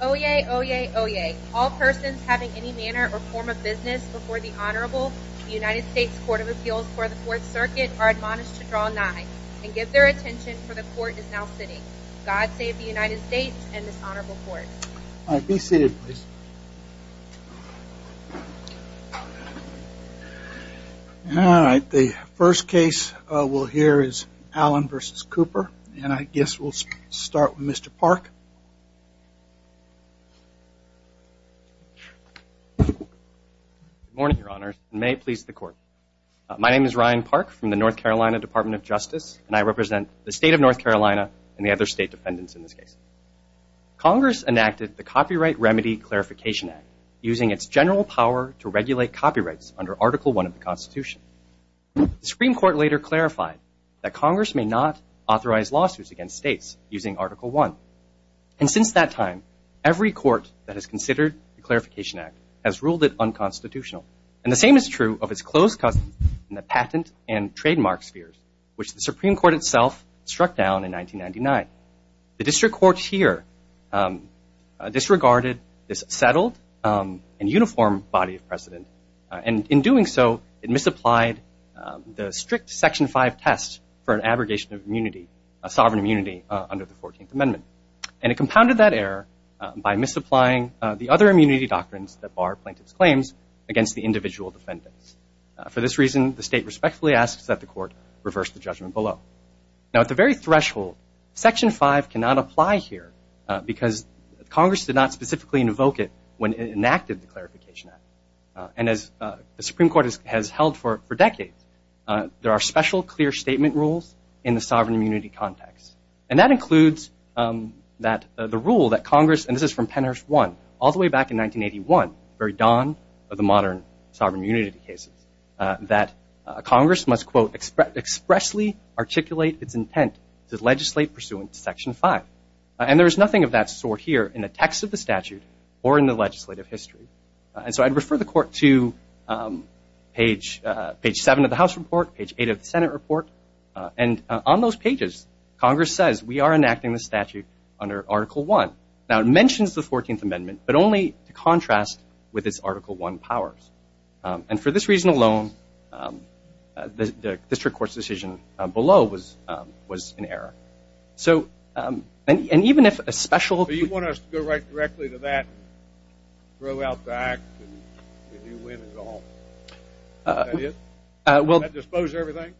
Oyez, oyez, oyez. All persons having any manner or form of business before the Honorable United States Court of Appeals for the Fourth Circuit are admonished to draw nines, and give their attention, for the Court is now sitting. God save the United States and this Honorable Court. All right, be seated, please. All right, the first case we'll hear is Allen v. Cooper, and I guess we'll start with Mr. Park. Good morning, Your Honors, and may it please the Court. My name is Ryan Park from the North Carolina Department of Justice, and I represent the state of North Carolina and the other state defendants in this case. Congress enacted the Copyright Remedy Clarification Act using its general power to regulate copyrights under Article I of the Constitution. The Supreme Court later clarified that Congress may not authorize lawsuits against states using Article I. And since that time, every court that has considered the Clarification Act has ruled it unconstitutional. And the same is true of its close cousins in the patent and trademark spheres, which the Supreme Court itself struck down in 1999. The district court here disregarded this settled and uniform body of precedent, and in doing so, it misapplied the strict Section 5 test for an abrogation of immunity, a sovereign immunity, under the 14th Amendment. And it compounded that error by misapplying the other immunity doctrines that bar plaintiffs' claims against the individual defendants. For this reason, the state respectfully asks that the Court reverse the judgment below. Now, at the very threshold, Section 5 cannot apply here because Congress did not specifically invoke it when it enacted the Clarification Act. And as the Supreme Court has held for decades, there are special clear statement rules in the sovereign immunity context. And that includes that the rule that Congress, and this is from Pennhurst I all the way back in 1981, the very dawn of the modern sovereign immunity cases, that Congress must, quote, expressly articulate its intent to legislate pursuant to Section 5. And there is nothing of that sort here in the text of the statute or in the legislative history. And so I'd refer the Court to page 7 of the House report, page 8 of the Senate report. And on those pages, Congress says, we are enacting the statute under Article I. Now, it mentions the 14th Amendment, but only to contrast with its Article I powers. And for this reason alone, the district court's decision below was in error. And even if a special So you want us to go right directly to that, throw out the act, and you win and go home? Is that it? Well Does that dispose everything?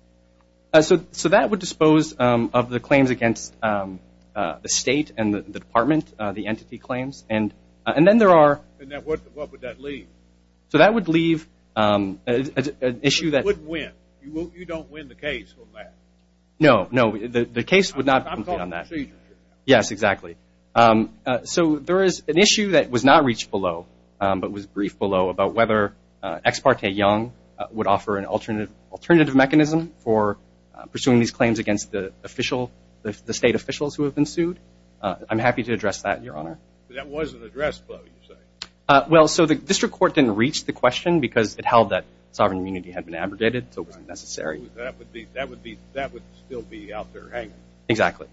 So that would dispose of the claims against the state and the department, the entity claims. And then there are And what would that leave? So that would leave an issue that You wouldn't win. You don't win the case from that. No, no. The case would not I'm talking to you. Yes, exactly. So there is an issue that was not reached below, but was briefed below, about whether Ex parte Young would offer an alternative mechanism for pursuing these claims against the state officials who have been sued. I'm happy to address that, Your Honor. That wasn't addressed, though, you say. Well, so the district court didn't reach the question because it held that sovereign immunity had been abrogated, so it wasn't necessary. That would still be out there hanging. Exactly.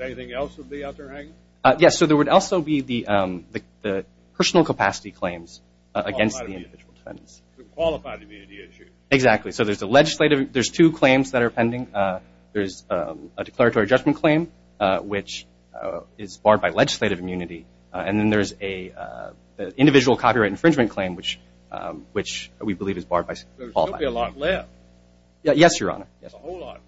Anything else would be out there hanging? Yes, so there would also be the personal capacity claims against the individual defendants. Qualified immunity issue. Exactly. So there's two claims that are pending. There's a declaratory judgment claim, which is barred by legislative immunity, and then there's an individual copyright infringement claim, which we believe is barred by Yes, Your Honor. Hold on.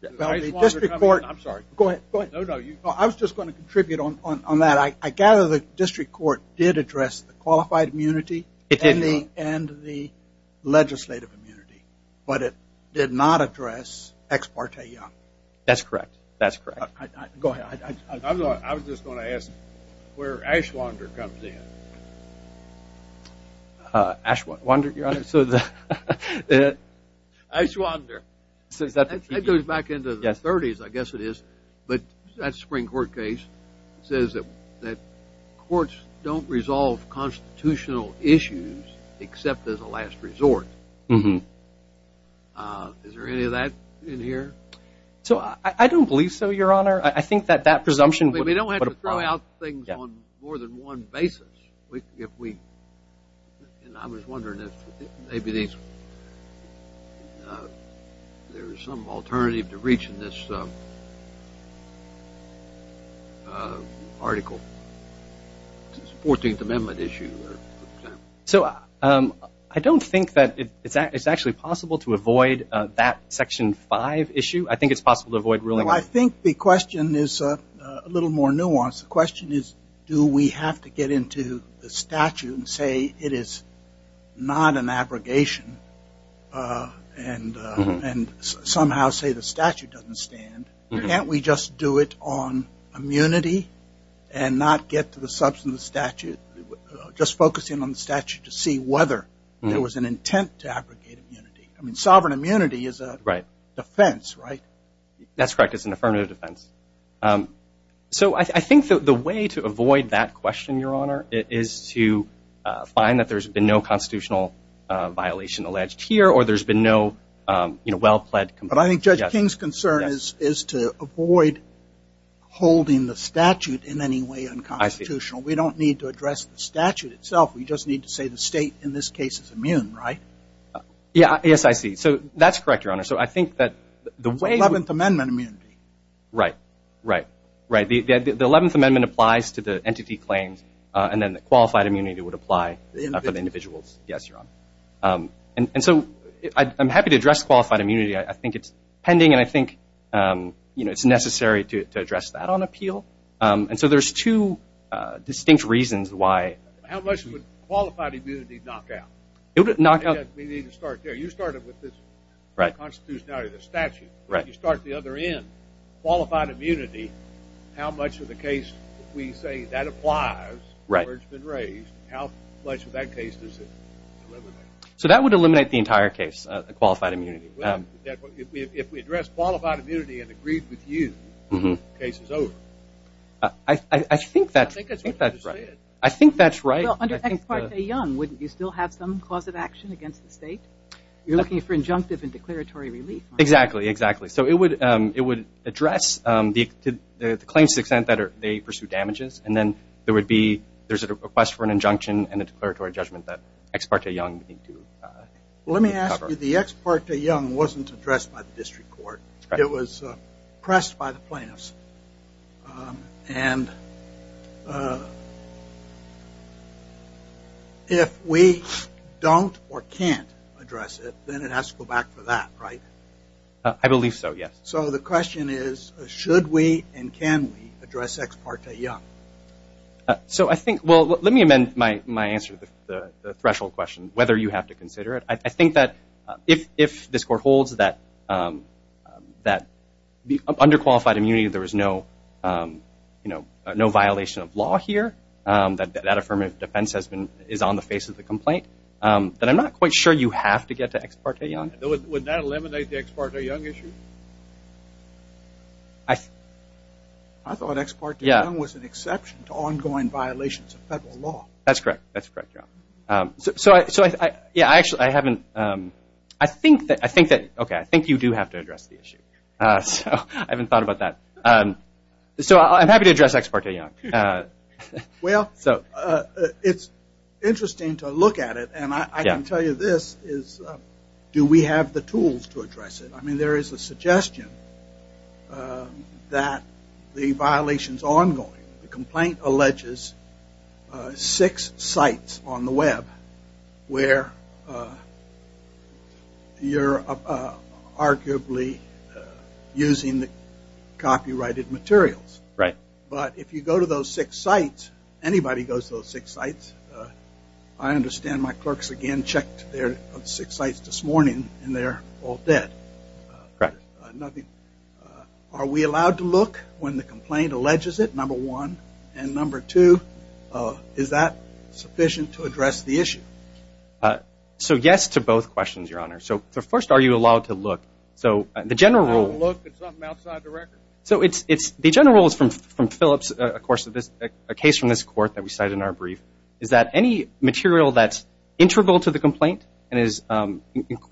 The district court I'm sorry. Go ahead. No, no. I was just going to contribute on that. I gather the district court did address the qualified immunity and the legislative immunity, but it did not address Ex parte Young. That's correct. That's correct. Go ahead. I was just going to ask where Ashwander comes in. Ashwander, Your Honor. Ashwander. It goes back into the 30s, I guess it is. But that spring court case says that courts don't resolve constitutional issues except as a last resort. Is there any of that in here? I don't believe so, Your Honor. I think that that presumption We don't have to throw out things on more than one basis. I was wondering if maybe there's some alternative to reaching this article, the 14th Amendment issue. So I don't think that it's actually possible to avoid that Section 5 issue. I think it's possible to avoid ruling on it. Well, I think the question is a little more nuanced. The question is, do we have to get into the statute and say it is not an abrogation and somehow say the statute doesn't stand? Can't we just do it on immunity and not get to the substance of the statute, just focusing on the statute to see whether there was an intent to abrogate immunity? I mean, sovereign immunity is a defense, right? That's correct. It's an affirmative defense. So I think the way to avoid that question, Your Honor, is to find that there's been no constitutional violation alleged here or there's been no well-pledged complaint. But I think Judge King's concern is to avoid holding the statute in any way unconstitutional. We don't need to address the statute itself. We just need to say the state in this case is immune, right? Yes, I see. So that's correct, Your Honor. That's 11th Amendment immunity. Right, right, right. The 11th Amendment applies to the entity claims, and then the qualified immunity would apply for the individuals. Yes, Your Honor. And so I'm happy to address qualified immunity. I think it's pending, and I think it's necessary to address that on appeal. And so there's two distinct reasons why. How much would qualified immunity knock out? We need to start there. You started with the constitutionality of the statute. You start at the other end. Qualified immunity, how much of the case we say that applies where it's been raised, how much of that case does it eliminate? So that would eliminate the entire case, qualified immunity. If we address qualified immunity and agreed with you, the case is over. I think that's right. I think that's what you said. I think that's right. Well, under Ex parte Young, wouldn't you still have some cause of action against the state? You're looking for injunctive and declaratory relief. Exactly, exactly. So it would address the claims to the extent that they pursue damages, and then there would be a request for an injunction and a declaratory judgment that Ex parte Young would need to cover. Let me ask you, the Ex parte Young wasn't addressed by the district court. It was pressed by the plaintiffs. And if we don't or can't address it, then it has to go back for that, right? I believe so, yes. So the question is, should we and can we address Ex parte Young? So I think, well, let me amend my answer to the threshold question, whether you have to consider it. I think that if this court holds that under qualified immunity there is no violation of law here, that that affirmative defense is on the face of the complaint, then I'm not quite sure you have to get to Ex parte Young. Would that eliminate the Ex parte Young issue? I thought Ex parte Young was an exception to ongoing violations of federal law. That's correct, John. So, yeah, I actually haven't, I think that, okay, I think you do have to address the issue. So I haven't thought about that. So I'm happy to address Ex parte Young. Well, it's interesting to look at it, and I can tell you this, is do we have the tools to address it? I mean, there is a suggestion that the violation is ongoing. The complaint alleges six sites on the Web where you're arguably using the copyrighted materials. Right. But if you go to those six sites, anybody goes to those six sites, I understand my clerks again checked their six sites this morning, and they're all dead. Right. Are we allowed to look when the complaint alleges it, number one? And number two, is that sufficient to address the issue? So yes to both questions, Your Honor. So first, are you allowed to look? So the general rule is from Phillips, of course, a case from this court that we cited in our brief, is that any material that's integral to the complaint and is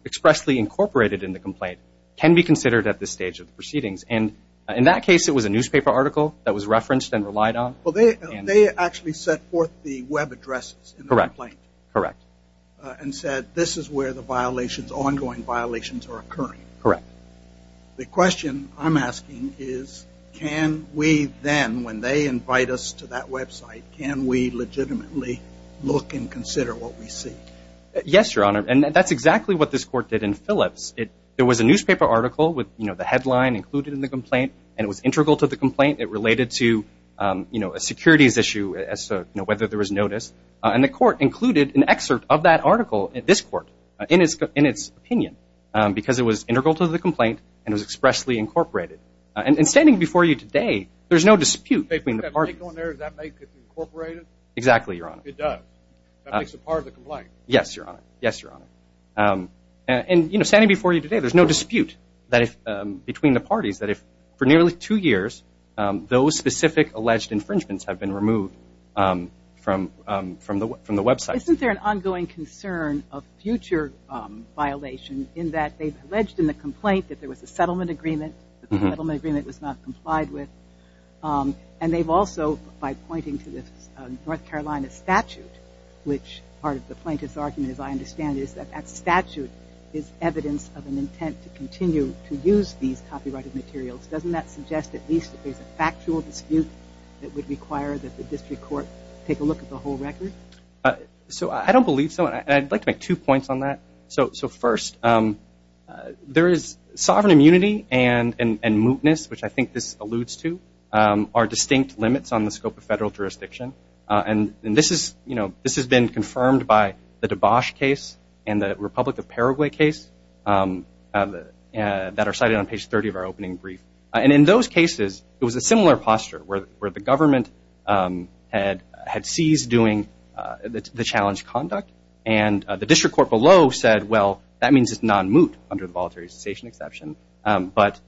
expressly incorporated in the complaint can be considered at this stage of the proceedings. And in that case, it was a newspaper article that was referenced and relied on. Well, they actually set forth the Web addresses in the complaint. Correct. And said this is where the violations, ongoing violations, are occurring. Correct. The question I'm asking is, can we then, when they invite us to that Web site, can we legitimately look and consider what we see? Yes, Your Honor, and that's exactly what this court did in Phillips. There was a newspaper article with the headline included in the complaint, and it was integral to the complaint. It related to a securities issue as to whether there was notice. And the court included an excerpt of that article in this court in its opinion because it was integral to the complaint and was expressly incorporated. And standing before you today, there's no dispute between the parties. Does that make it incorporated? Exactly, Your Honor. It does. That makes it part of the complaint. Yes, Your Honor. Yes, Your Honor. And, you know, standing before you today, there's no dispute between the parties that if for nearly two years those specific alleged infringements have been removed from the Web site. Isn't there an ongoing concern of future violation in that they've alleged in the complaint that there was a settlement agreement that the settlement agreement was not complied with? And they've also, by pointing to this North Carolina statute, which part of the plaintiff's argument, as I understand it, is that that statute is evidence of an intent to continue to use these copyrighted materials. Doesn't that suggest at least that there's a factual dispute that would require that the district court take a look at the whole record? So I don't believe so, and I'd like to make two points on that. So first, there is sovereign immunity and mootness, which I think this alludes to, are distinct limits on the scope of federal jurisdiction. And this has been confirmed by the DeBosch case and the Republic of Paraguay case that are cited on page 30 of our opening brief. And in those cases, it was a similar posture where the government had seized doing the challenged conduct, and the district court below said, well, that means it's non-moot under the Voluntary Cessation Exception. But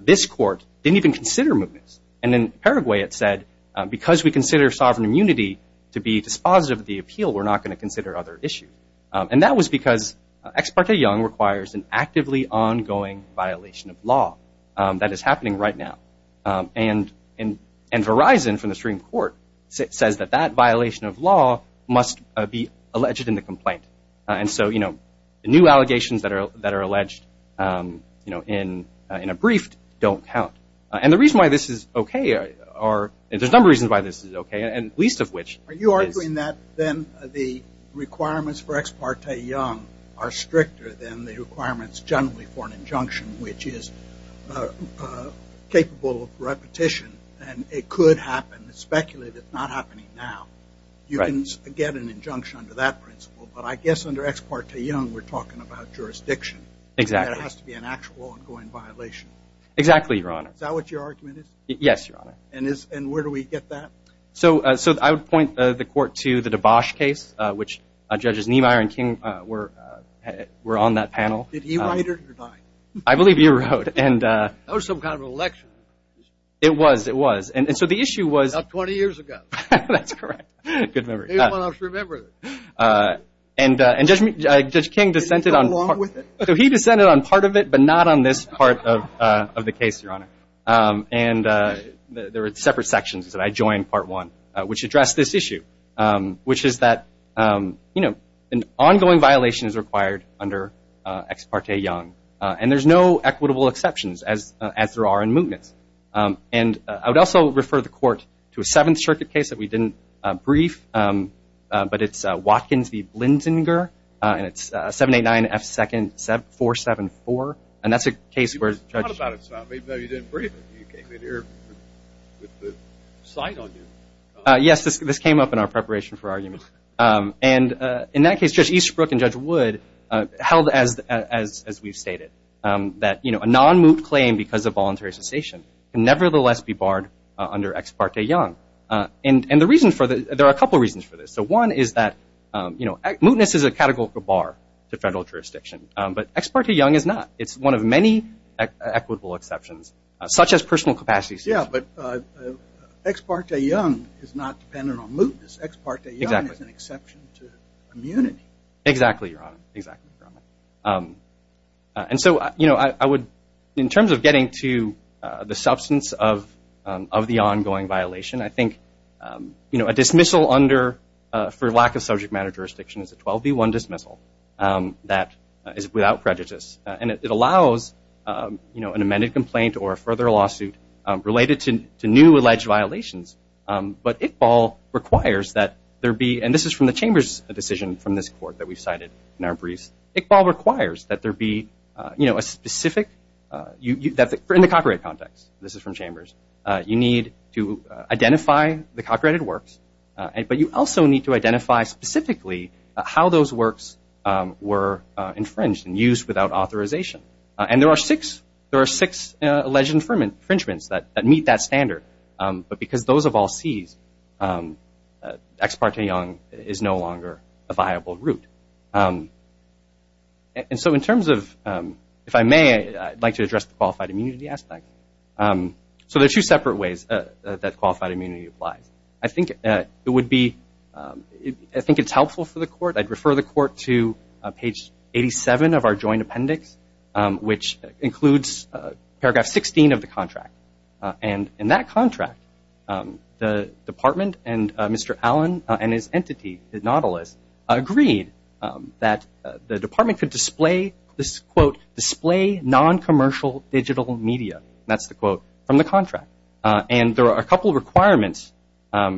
this court didn't even consider mootness. And in Paraguay it said, because we consider sovereign immunity to be dispositive of the appeal, we're not going to consider other issues. And that was because Ex Parte Young requires an actively ongoing violation of law. That is happening right now. And Verizon, from the Supreme Court, says that that violation of law must be alleged in the complaint. And so, you know, new allegations that are alleged, you know, in a brief don't count. And the reason why this is okay are – there's a number of reasons why this is okay, and least of which is – Are you arguing that then the requirements for Ex Parte Young are stricter than the requirements generally for an injunction, which is capable of repetition, and it could happen. It's speculated it's not happening now. Right. You can get an injunction under that principle. But I guess under Ex Parte Young we're talking about jurisdiction. Exactly. And there has to be an actual ongoing violation. Exactly, Your Honor. Is that what your argument is? Yes, Your Honor. And where do we get that? So I would point the court to the DeBosch case, which Judges Niemeyer and King were on that panel. Did he write it or die? I believe he wrote. That was some kind of election. It was. It was. And so the issue was – About 20 years ago. That's correct. Good memory. Anyone else remember it? And Judge King dissented on part of it. Did he go along with it? He dissented on part of it, but not on this part of the case, Your Honor. And there were separate sections, and I joined part one, which addressed this issue, which is that, you know, an ongoing violation is required under Ex Parte Young. And there's no equitable exceptions, as there are in mootness. And I would also refer the court to a Seventh Circuit case that we didn't brief, but it's Watkins v. Blinzinger, and it's 789 F. 2nd 474. And that's a case where – You just talked about it, so maybe you didn't brief it. You came in here with the sign on you. Yes, this came up in our preparation for argument. And in that case, Judge Easterbrook and Judge Wood held, as we've stated, that a non-moot claim because of voluntary cessation can nevertheless be barred under Ex Parte Young. And the reason for this – there are a couple of reasons for this. So one is that, you know, mootness is a categorical bar to federal jurisdiction, but Ex Parte Young is not. It's one of many equitable exceptions, such as personal capacity suits. Yes, but Ex Parte Young is not dependent on mootness. Ex Parte Young is an exception to immunity. Exactly, Your Honor. Exactly, Your Honor. And so, you know, I would – in terms of getting to the substance of the ongoing violation, I think, you know, a dismissal under – for lack of subject matter jurisdiction is a 12B1 dismissal that is without prejudice. And it allows, you know, an amended complaint or a further lawsuit related to new alleged violations. But Iqbal requires that there be – and this is from the Chamber's decision from this court that we cited in our briefs. Iqbal requires that there be, you know, a specific – in the copyright context. This is from Chambers. You need to identify the copyrighted works, but you also need to identify specifically how those works were infringed and used without authorization. And there are six alleged infringements that meet that standard. But because those have all seized, Ex Parte Young is no longer a viable route. And so in terms of – if I may, I'd like to address the qualified immunity aspect. So there are two separate ways that qualified immunity applies. I think it would be – I think it's helpful for the court. I'd refer the court to page 87 of our joint appendix, which includes paragraph 16 of the contract. And in that contract, the department and Mr. Allen and his entity, Nautilus, agreed that the department could display this, quote, display noncommercial digital media. That's the quote from the contract. And there are a couple of requirements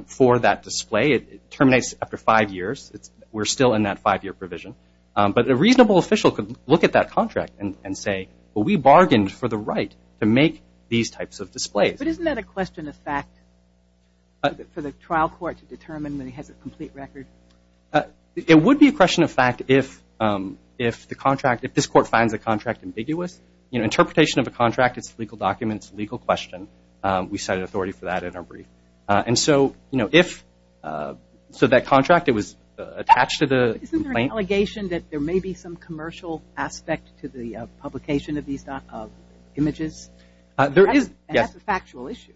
for that display. It terminates after five years. We're still in that five-year provision. But a reasonable official could look at that contract and say, well, we bargained for the right to make these types of displays. But isn't that a question of fact for the trial court to determine when he has a complete record? It would be a question of fact if the contract – if this court finds the contract ambiguous. Interpretation of a contract is a legal document. It's a legal question. We cited authority for that in our brief. And so if – so that contract, it was attached to the complaint. Isn't there an allegation that there may be some commercial aspect to the publication of these images? There is, yes. And that's a factual issue.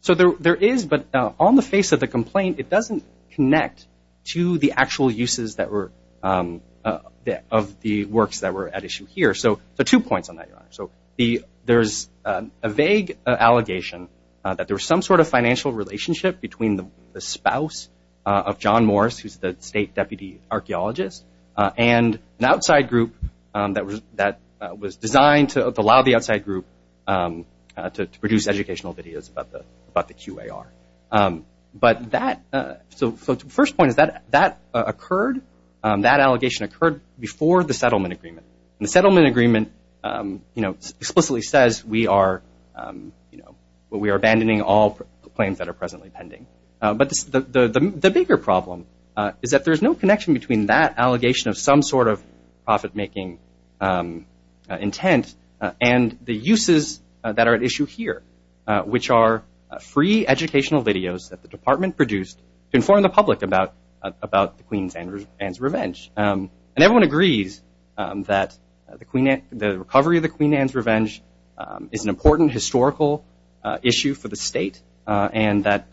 So there is, but on the face of the complaint, it doesn't connect to the actual uses that were – of the works that were at issue here. So two points on that, Your Honor. So there's a vague allegation that there was some sort of financial relationship between the spouse of John Morris, who's the state deputy archaeologist, and an outside group that was designed to allow the outside group to produce educational videos about the QAR. But that – so the first point is that that occurred – that allegation occurred before the settlement agreement. And the settlement agreement, you know, explicitly says we are, you know, well, we are abandoning all claims that are presently pending. But the bigger problem is that there's no connection between that allegation of some sort of profit-making intent and the uses that are at issue here, which are free educational videos that the department produced to inform the public about the Queen Anne's revenge. And everyone agrees that the Queen Anne – the recovery of the Queen Anne's revenge is an important historical issue for the state, and that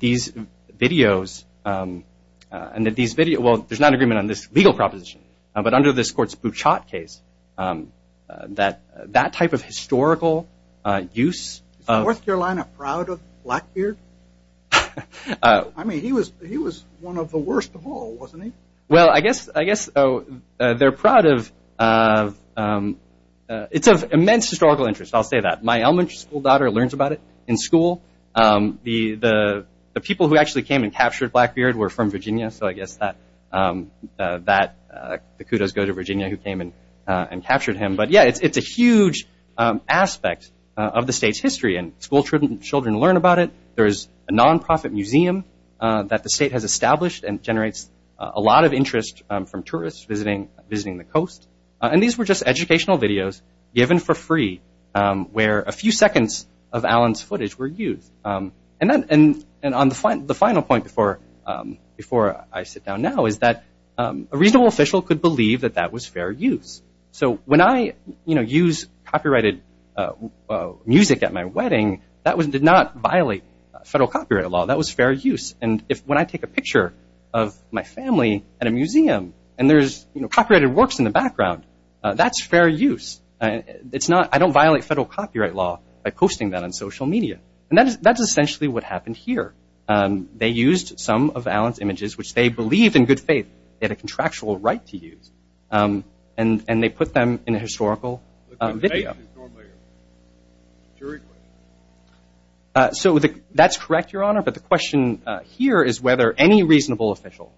these videos – and that these videos – well, there's not an agreement on this legal proposition, but under this court's Bouchot case, that that type of historical use – Is North Carolina proud of Blackbeard? I mean, he was one of the worst of all, wasn't he? Well, I guess they're proud of – it's of immense historical interest, I'll say that. My elementary school daughter learns about it in school. The people who actually came and captured Blackbeard were from Virginia, so I guess that the kudos go to Virginia, who came and captured him. But yeah, it's a huge aspect of the state's history, and schoolchildren learn about it. There's a nonprofit museum that the state has established and generates a lot of interest from tourists visiting the coast. And these were just educational videos given for free, where a few seconds of Alan's footage were used. And on the final point before I sit down now is that a reasonable official could believe that that was fair use. So when I use copyrighted music at my wedding, that did not violate federal copyright law. That was fair use. And when I take a picture of my family at a museum, and there's copyrighted works in the background, that's fair use. I don't violate federal copyright law by posting that on social media. And that's essentially what happened here. They used some of Alan's images, which they believed in good faith they had a contractual right to use. And they put them in a historical video. So that's correct, Your Honor, but the question here is whether any reasonable official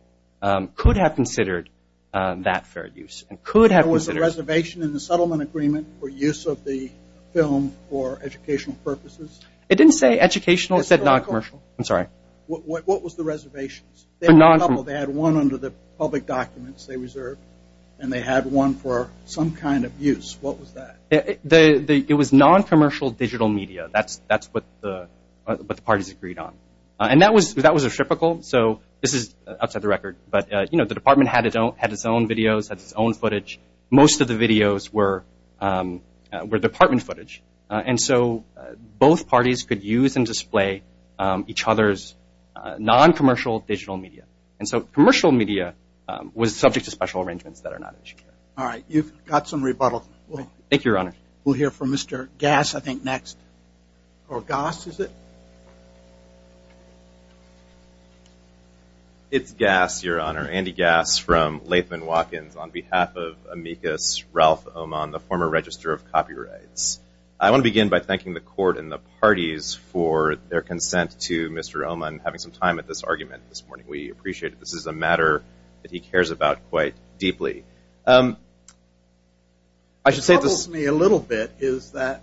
could have considered that fair use. Was there a reservation in the settlement agreement for use of the film for educational purposes? It didn't say educational. It said noncommercial. I'm sorry. What was the reservation? They had one under the public documents they reserved, and they had one for some kind of use. What was that? It was noncommercial digital media. That's what the parties agreed on. And that was reciprocal. So this is outside the record. But, you know, the department had its own videos, had its own footage. Most of the videos were department footage. And so both parties could use and display each other's noncommercial digital media. And so commercial media was subject to special arrangements that are not issued here. All right. You've got some rebuttal. Thank you, Your Honor. We'll hear from Mr. Gass, I think, next. Or Goss, is it? It's Gass, Your Honor. Andy Gass from Latham & Watkins on behalf of amicus Ralph Oman, the former register of copyrights. I want to begin by thanking the court and the parties for their consent to Mr. Oman having some time at this argument this morning. We appreciate it. This is a matter that he cares about quite deeply. I should say this. What troubles me a little bit is that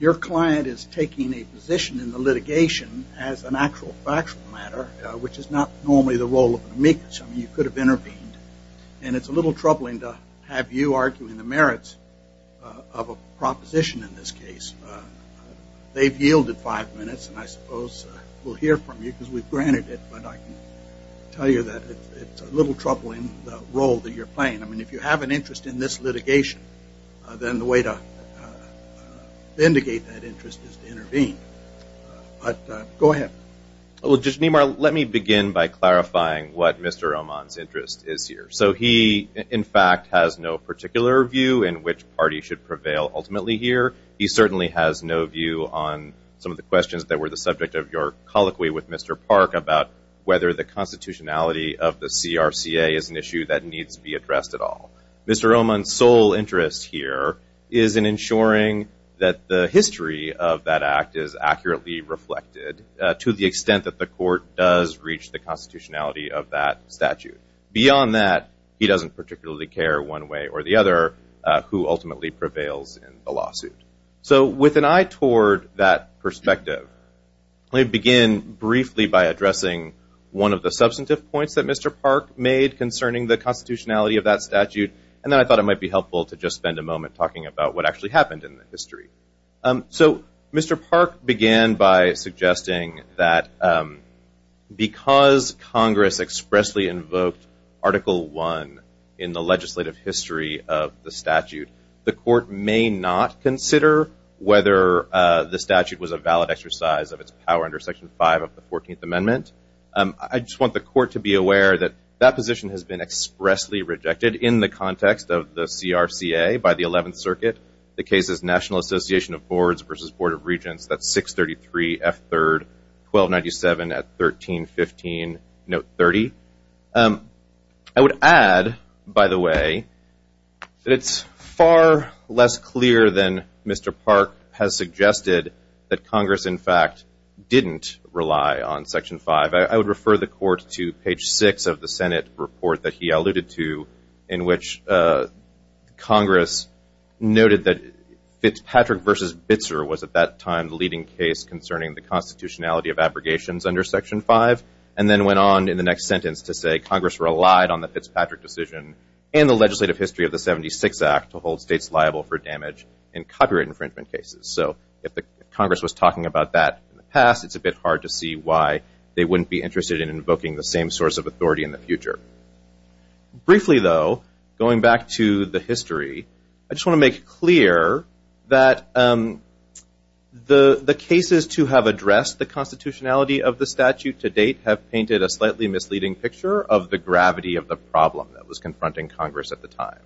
your client is taking a position in the litigation as an actual factual matter, which is not normally the role of an amicus. I mean, you could have intervened. And it's a little troubling to have you arguing the merits of a proposition in this case. They've yielded five minutes, and I suppose we'll hear from you because we've granted it. But I can tell you that it's a little troubling, the role that you're playing. I mean, if you have an interest in this litigation, then the way to vindicate that interest is to intervene. But go ahead. Well, Judge Nemar, let me begin by clarifying what Mr. Oman's interest is here. So he, in fact, has no particular view in which party should prevail ultimately here. He certainly has no view on some of the questions that were the subject of your colloquy with Mr. Park about whether the constitutionality of the CRCA is an issue that needs to be addressed at all. Mr. Oman's sole interest here is in ensuring that the history of that act is accurately reflected to the extent that the court does reach the constitutionality of that statute. Beyond that, he doesn't particularly care one way or the other who ultimately prevails in the lawsuit. So with an eye toward that perspective, let me begin briefly by addressing one of the substantive points that Mr. Park made concerning the constitutionality of that statute, and then I thought it might be helpful to just spend a moment talking about what actually happened in the history. So Mr. Park began by suggesting that because Congress expressly invoked Article I in the legislative history of the statute, the court may not consider whether the statute was a valid exercise of its power under Section 5 of the 14th Amendment. I just want the court to be aware that that position has been expressly rejected in the context of the CRCA by the 11th Circuit. The case is National Association of Boards v. Board of Regents. That's 633 F. 3rd 1297 at 1315 note 30. I would add, by the way, that it's far less clear than Mr. Park has suggested that Congress, in fact, didn't rely on Section 5. I would refer the court to page 6 of the Senate report that he alluded to in which Congress noted that Fitzpatrick v. Bitzer was at that time the leading case concerning the constitutionality of abrogations under Section 5, and then went on in the next sentence to say Congress relied on the Fitzpatrick decision and the legislative history of the 76 Act to hold states liable for damage in copyright infringement cases. So if Congress was talking about that in the past, it's a bit hard to see why they wouldn't be interested in invoking the same source of authority in the future. Briefly, though, going back to the history, I just want to make clear that the cases to have addressed the constitutionality of the statute to date have painted a slightly misleading picture of the gravity of the problem that was confronting Congress at the time.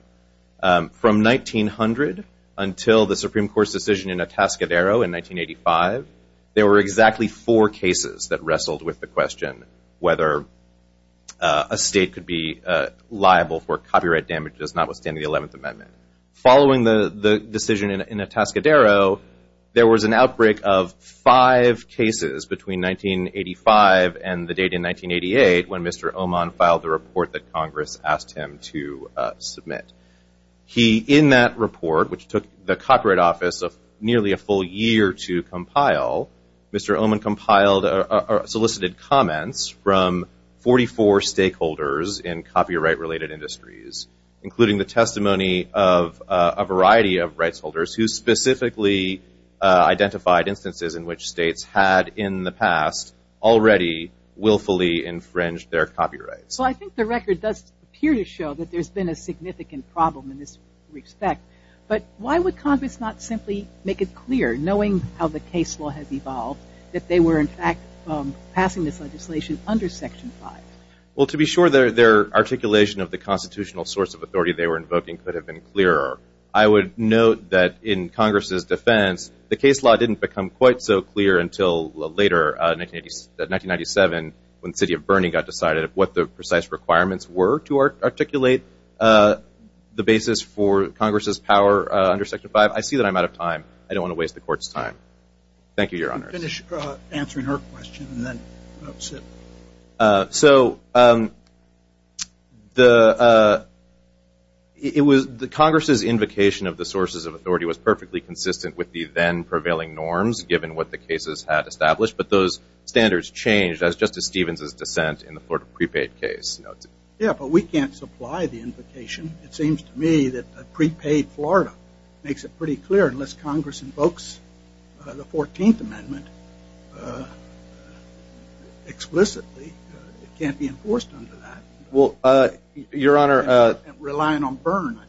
From 1900 until the Supreme Court's decision in Atascadero in 1985, there were exactly four cases that wrestled with the question whether a state could be liable for copyright damages notwithstanding the 11th Amendment. Following the decision in Atascadero, there was an outbreak of five cases between 1985 and the date in 1988 when Mr. Oman filed the report that Congress asked him to submit. He, in that report, which took the Copyright Office nearly a full year to compile, Mr. Oman solicited comments from 44 stakeholders in copyright-related industries, including the testimony of a variety of rights holders who specifically identified instances in which states had in the past already willfully infringed their copyrights. Well, I think the record does appear to show that there's been a significant problem in this respect. But why would Congress not simply make it clear, knowing how the case law has evolved, that they were, in fact, passing this legislation under Section 5? Well, to be sure, their articulation of the constitutional source of authority they were invoking could have been clearer. I would note that in Congress's defense, the case law didn't become quite so clear until later, 1997, when the city of Burning got decided of what the precise requirements were to articulate the basis for Congress's power under Section 5. I see that I'm out of time. I don't want to waste the Court's time. Thank you, Your Honors. Finish answering her question, and then we'll sit. So the Congress's invocation of the sources of authority was perfectly consistent with the then-prevailing norms, given what the cases had established, but those standards changed as Justice Stevens' dissent in the Florida prepaid case. Yeah, but we can't supply the invocation. It seems to me that a prepaid Florida makes it pretty clear, unless Congress invokes the 14th Amendment explicitly. It can't be enforced under that. Your Honor. Relying on Burn,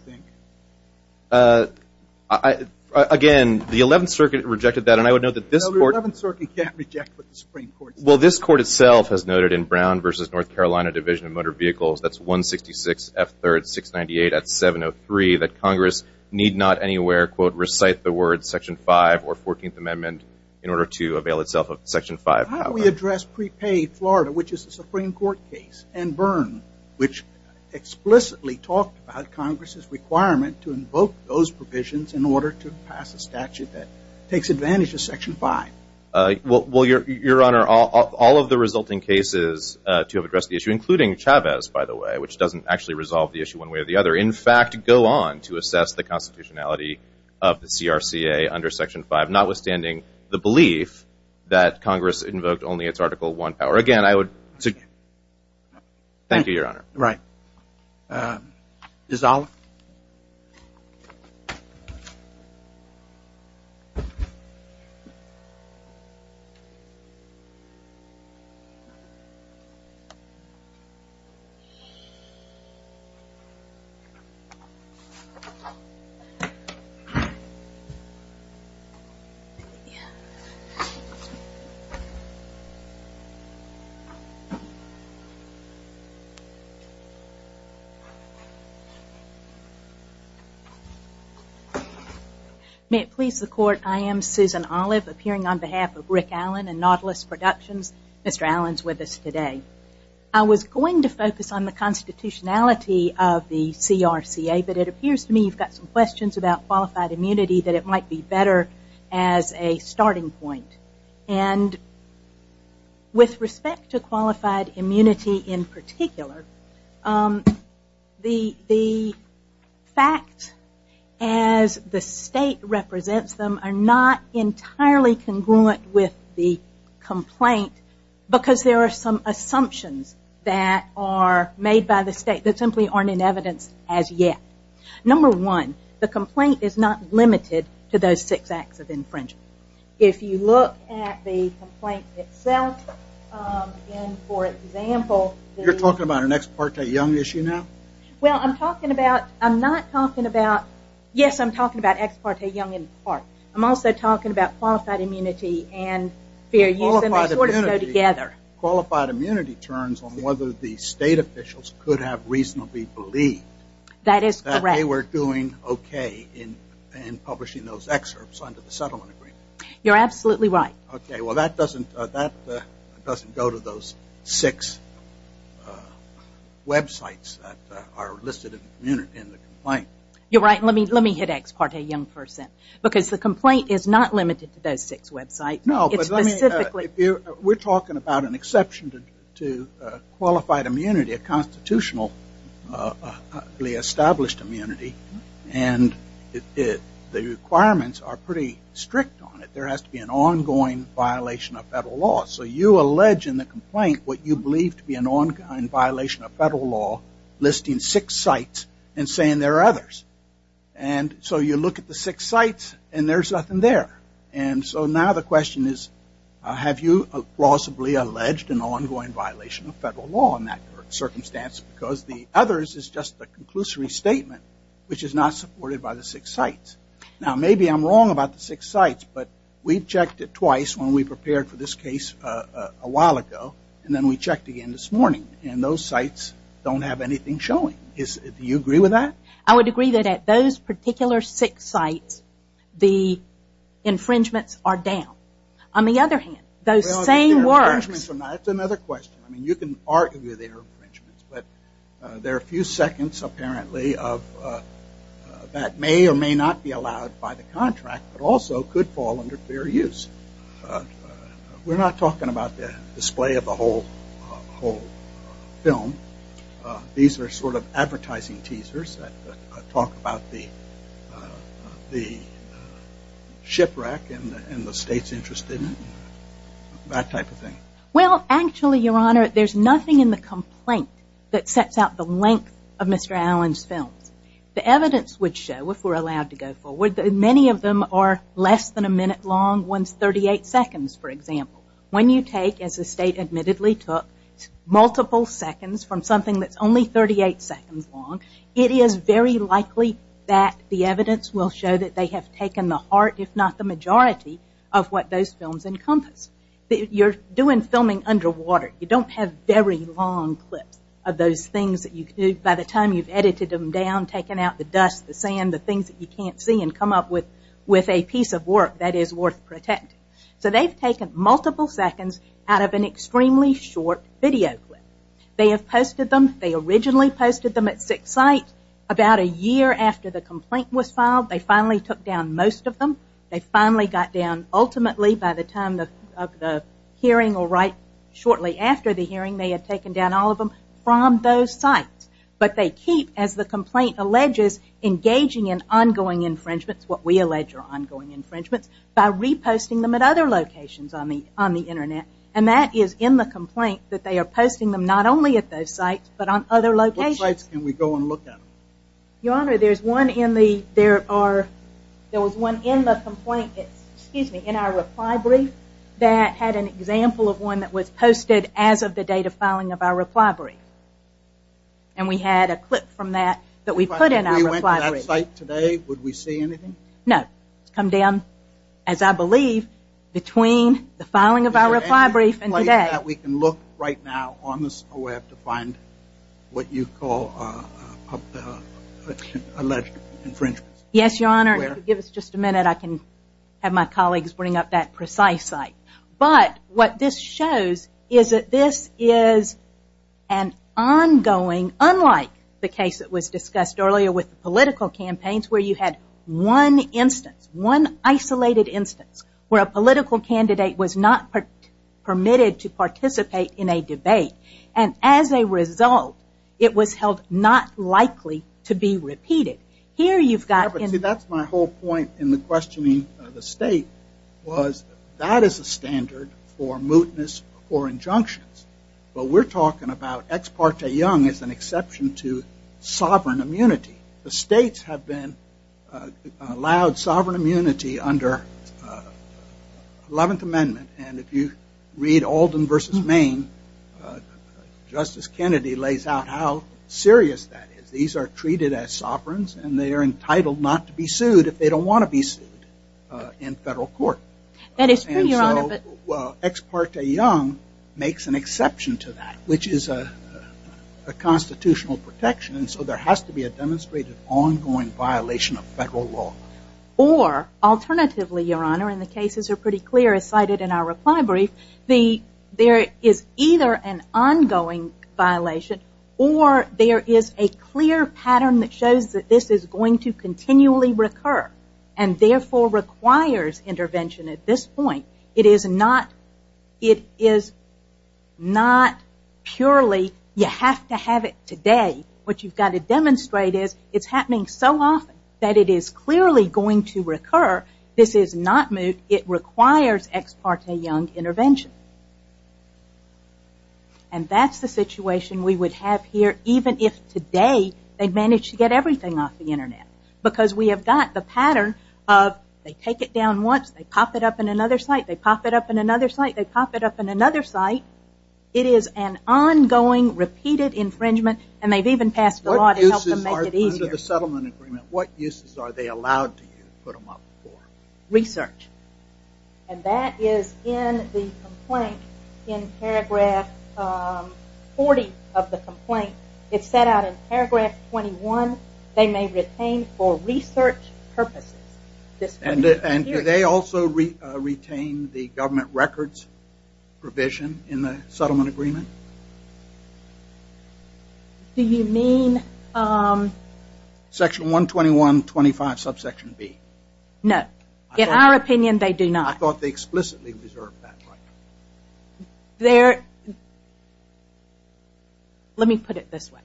I think. Again, the 11th Circuit rejected that, and I would note that this Court… No, the 11th Circuit can't reject what the Supreme Court says. Well, this Court itself has noted in Brown v. North Carolina Division of Motor Vehicles, that's 166 F. 3rd 698 at 703, that Congress need not anywhere, quote, recite the words Section 5 or 14th Amendment in order to avail itself of Section 5. How do we address prepaid Florida, which is the Supreme Court case, and Burn, which explicitly talked about Congress's requirement to invoke those provisions in order to pass a statute that takes advantage of Section 5? Well, Your Honor, all of the resulting cases to have addressed the issue, including Chavez, by the way, which doesn't actually resolve the issue one way or the other, in fact, go on to assess the constitutionality of the CRCA under Section 5, notwithstanding the belief that Congress invoked only its Article 1 power. Again, I would… Thank you, Your Honor. Right. Is that all? May it please the Court, I am Susan Olive, appearing on behalf of Rick Allen and Nautilus Productions. Mr. Allen is with us today. I was going to focus on the constitutionality of the CRCA, but it appears to me you've got some questions about qualified immunity, that it might be better as a starting point. And with respect to qualified immunity in particular, the facts as the state represents them are not entirely congruent with the complaint because there are some assumptions that are made by the state that simply aren't in evidence as yet. Number one, the complaint is not limited to those six acts of infringement. If you look at the complaint itself, and for example… You're talking about an ex parte young issue now? Well, I'm talking about, I'm not talking about, yes, I'm talking about ex parte young in part. I'm also talking about qualified immunity and fair use, and they sort of go together. Qualified immunity turns on whether the state officials could have reasonably believed… That is correct. …that they were doing okay in publishing those excerpts under the settlement agreement. You're absolutely right. Okay, well, that doesn't go to those six websites that are listed in the complaint. You're right. Let me hit ex parte young for a sec because the complaint is not limited to those six websites. No, but let me… It's specifically… We're talking about an exception to qualified immunity, a constitutionally established immunity, and the requirements are pretty strict on it. There has to be an ongoing violation of federal law. So you allege in the complaint what you believe to be an ongoing violation of federal law, listing six sites and saying there are others. And so you look at the six sites and there's nothing there. And so now the question is, have you plausibly alleged an ongoing violation of federal law in that circumstance because the others is just a conclusory statement, which is not supported by the six sites? Now, maybe I'm wrong about the six sites, but we've checked it twice when we prepared for this case a while ago, and then we checked again this morning, and those sites don't have anything showing. Do you agree with that? I would agree that at those particular six sites the infringements are down. On the other hand, those same works… Well, the infringements are not. That's another question. I mean, you can argue they're infringements, but there are a few seconds apparently that may or may not be allowed by the contract but also could fall under fair use. We're not talking about the display of the whole film. These are sort of advertising teasers that talk about the shipwreck and the states interested in it, that type of thing. Well, actually, Your Honor, there's nothing in the complaint that sets out the length of Mr. Allen's films. The evidence would show, if we're allowed to go forward, that many of them are less than a minute long, one's 38 seconds, for example. When you take, as the state admittedly took, multiple seconds from something that's only 38 seconds long, it is very likely that the evidence will show that they have taken the heart, if not the majority, of what those films encompass. You're doing filming underwater. You don't have very long clips of those things that you do. By the time you've edited them down, taken out the dust, the sand, the things that you can't see and come up with a piece of work that is worth protecting. So they've taken multiple seconds out of an extremely short video clip. They have posted them. They originally posted them at six sites. About a year after the complaint was filed, they finally took down most of them. They finally got down, ultimately, by the time of the hearing or right shortly after the hearing, they had taken down all of them from those sites. But they keep, as the complaint alleges, engaging in ongoing infringements, what we allege are ongoing infringements, by reposting them at other locations on the Internet. And that is in the complaint that they are posting them not only at those sites, but on other locations. What sites can we go and look at? Your Honor, there's one in the, there are, there was one in the complaint, excuse me, in our reply brief that had an example of one that was posted as of the date of filing of our reply brief. And we had a clip from that that we put in our reply brief. If we went to that site today, would we see anything? No. It's come down, as I believe, between the filing of our reply brief and today. We can look right now on the web to find what you call alleged infringements. Yes, Your Honor. Give us just a minute. I can have my colleagues bring up that precise site. But what this shows is that this is an ongoing, unlike the case that was discussed earlier with the political campaigns, where you had one instance, one isolated instance, where a political candidate was not permitted to participate in a debate. And as a result, it was held not likely to be repeated. Here you've got... See, that's my whole point in the questioning of the State, was that is a standard for mootness or injunctions. But we're talking about Ex Parte Young as an exception to sovereign immunity. The States have been allowed sovereign immunity under the 11th Amendment. And if you read Alden v. Maine, Justice Kennedy lays out how serious that is. These are treated as sovereigns, and they are entitled not to be sued if they don't want to be sued in federal court. That is true, Your Honor. And so Ex Parte Young makes an exception to that, which is a constitutional protection. And so there has to be a demonstrated ongoing violation of federal law. Or, alternatively, Your Honor, and the cases are pretty clear as cited in our reply brief, there is either an ongoing violation or there is a clear pattern that shows that this is going to continually recur and therefore requires intervention at this point. It is not purely you have to have it today, what you have to demonstrate is it is happening so often that it is clearly going to recur. This is not moot. It requires Ex Parte Young intervention. And that is the situation we would have here even if today they managed to get everything off the Internet. Because we have got the pattern of they take it down once, they pop it up in another site, they pop it up in another site, they pop it up in another site. It is an ongoing, repeated infringement, and they have even passed the law to help them make it easier. Under the settlement agreement, what uses are they allowed to put them up for? Research. And that is in the complaint in paragraph 40 of the complaint. It is set out in paragraph 21. They may retain for research purposes. And do they also retain the government records provision in the settlement agreement? Do you mean? Section 121.25 subsection B. No. In our opinion, they do not. I thought they explicitly reserved that right. Let me put it this way.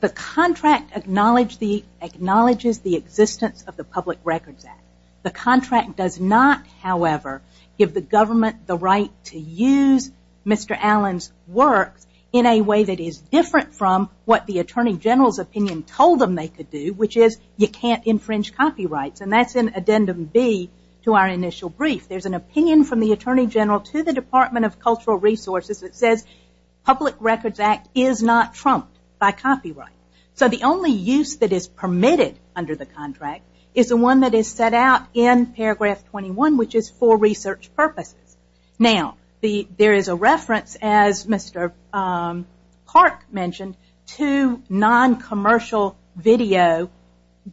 The contract acknowledges the existence of the Public Records Act. The contract does not, however, give the government the right to use Mr. Allen's works in a way that is different from what the Attorney General's opinion told them they could do, which is you can't infringe copyrights. And that is in addendum B to our initial brief. There is an opinion from the Attorney General to the Department of Cultural Resources that says the Public Records Act is not trumped by copyright. So the only use that is permitted under the contract is the one that is set out in paragraph 21, which is for research purposes. Now, there is a reference, as Mr. Clark mentioned, to noncommercial video.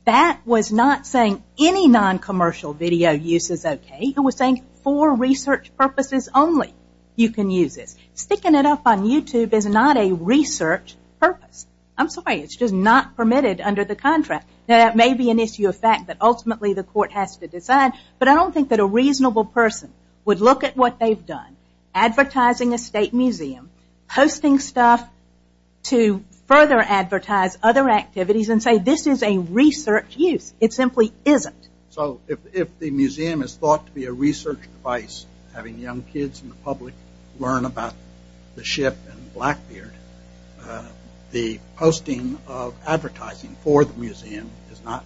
That was not saying any noncommercial video use is okay. It was saying for research purposes only you can use this. Sticking it up on YouTube is not a research purpose. I'm sorry, it's just not permitted under the contract. Now, that may be an issue of fact that ultimately the court has to decide, but I don't think that a reasonable person would look at what they've done, advertising a state museum, posting stuff to further advertise other activities and say this is a research use. It simply isn't. So if the museum is thought to be a research device, having young kids in the public learn about the ship and Blackbeard, the posting of advertising for the museum is not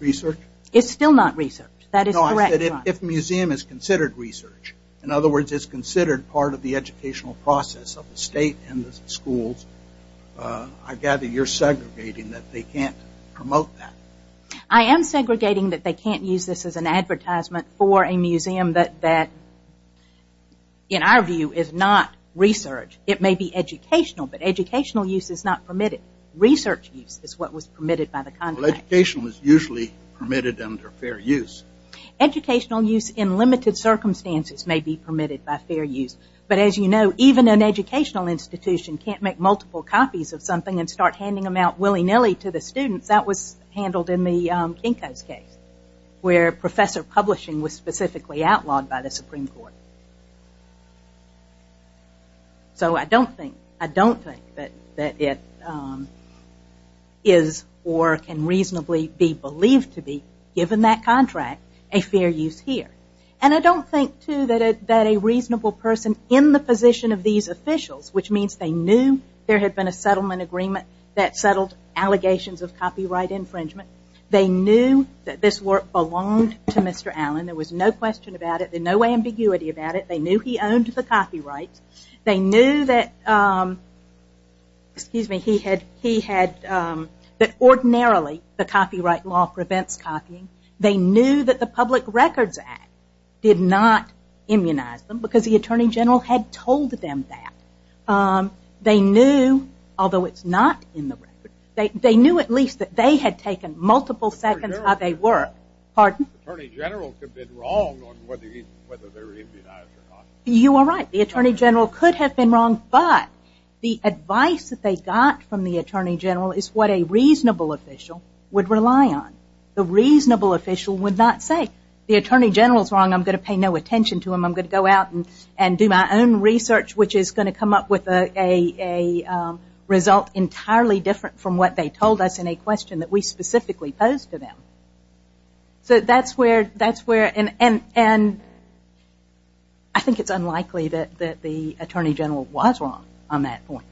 research? It's still not research. That is correct, John. If a museum is considered research, in other words, it's considered part of the educational process of the state and the schools, I gather you're segregating that they can't promote that. I am segregating that they can't use this as an advertisement for a museum that in our view is not research. It may be educational, but educational use is not permitted. Research use is what was permitted by the contract. Well, educational is usually permitted under fair use. Educational use in limited circumstances may be permitted by fair use, but as you know, even an educational institution can't make multiple copies of something and start handing them out willy-nilly to the students. That was handled in the Kinko's case, where professor publishing was specifically outlawed by the Supreme Court. So I don't think that it is or can reasonably be believed to be, given that contract, a fair use here. And I don't think, too, that a reasonable person in the position of these officials, which means they knew there had been a settlement agreement that settled allegations of copyright infringement. They knew that this work belonged to Mr. Allen. There was no question about it, no ambiguity about it. They knew he owned the copyrights. They knew that ordinarily the copyright law prevents copying. They knew that the Public Records Act did not immunize them because the Attorney General had told them that. They knew, although it's not in the record, they knew at least that they had taken multiple seconds how they worked. Pardon? The Attorney General could have been wrong on whether they were immunized or not. You are right. The Attorney General could have been wrong, but the advice that they got from the Attorney General is what a reasonable official would rely on. The reasonable official would not say, the Attorney General is wrong, I'm going to pay no attention to him, I'm going to go out and do my own research, which is going to come up with a result entirely different from what they told us in a question that we specifically posed to them. I think it's unlikely that the Attorney General was wrong on that point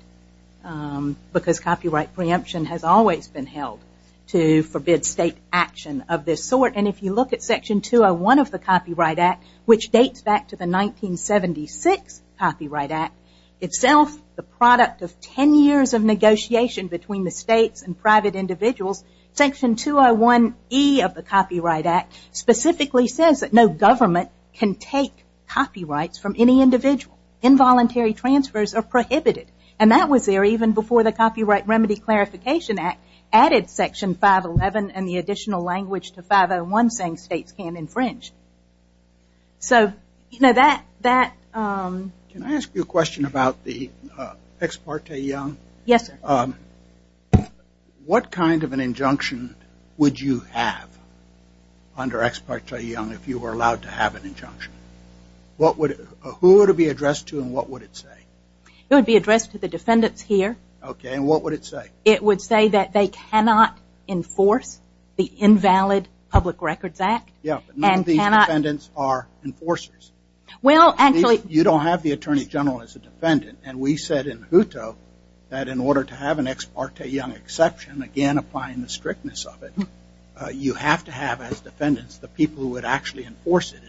because copyright preemption has always been held to forbid state action of this sort. If you look at Section 201 of the Copyright Act, which dates back to the 1976 Copyright Act, itself the product of ten years of negotiation between the states and private individuals, Section 201E of the Copyright Act specifically says that no government can take copyrights from any individual. Involuntary transfers are prohibited. That was there even before the Copyright Remedy Clarification Act added Section 511 and the additional language to 501 saying states can't infringe. Can I ask you a question about the Ex parte Young? Yes, sir. What kind of an injunction would you have under Ex parte Young if you were allowed to have an injunction? Who would it be addressed to and what would it say? It would be addressed to the defendants here. Okay, and what would it say? It would say that they cannot enforce the invalid Public Records Act. None of these defendants are enforcers. You don't have the Attorney General as a defendant, and we said in JUTO that in order to have an Ex parte Young exception, again applying the strictness of it, you have to have as defendants the people who would actually enforce it.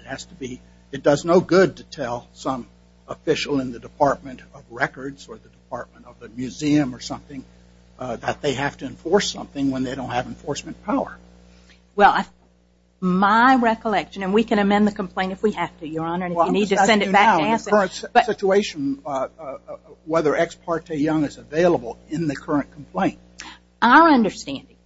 It does no good to tell some official in the Department of Records or the Department of the Museum or something that they have to enforce something when they don't have enforcement power. Well, my recollection, and we can amend the complaint if we have to, Your Honor, and if you need to send it back to us. In the current situation, whether Ex parte Young is available in the current complaint. Our understanding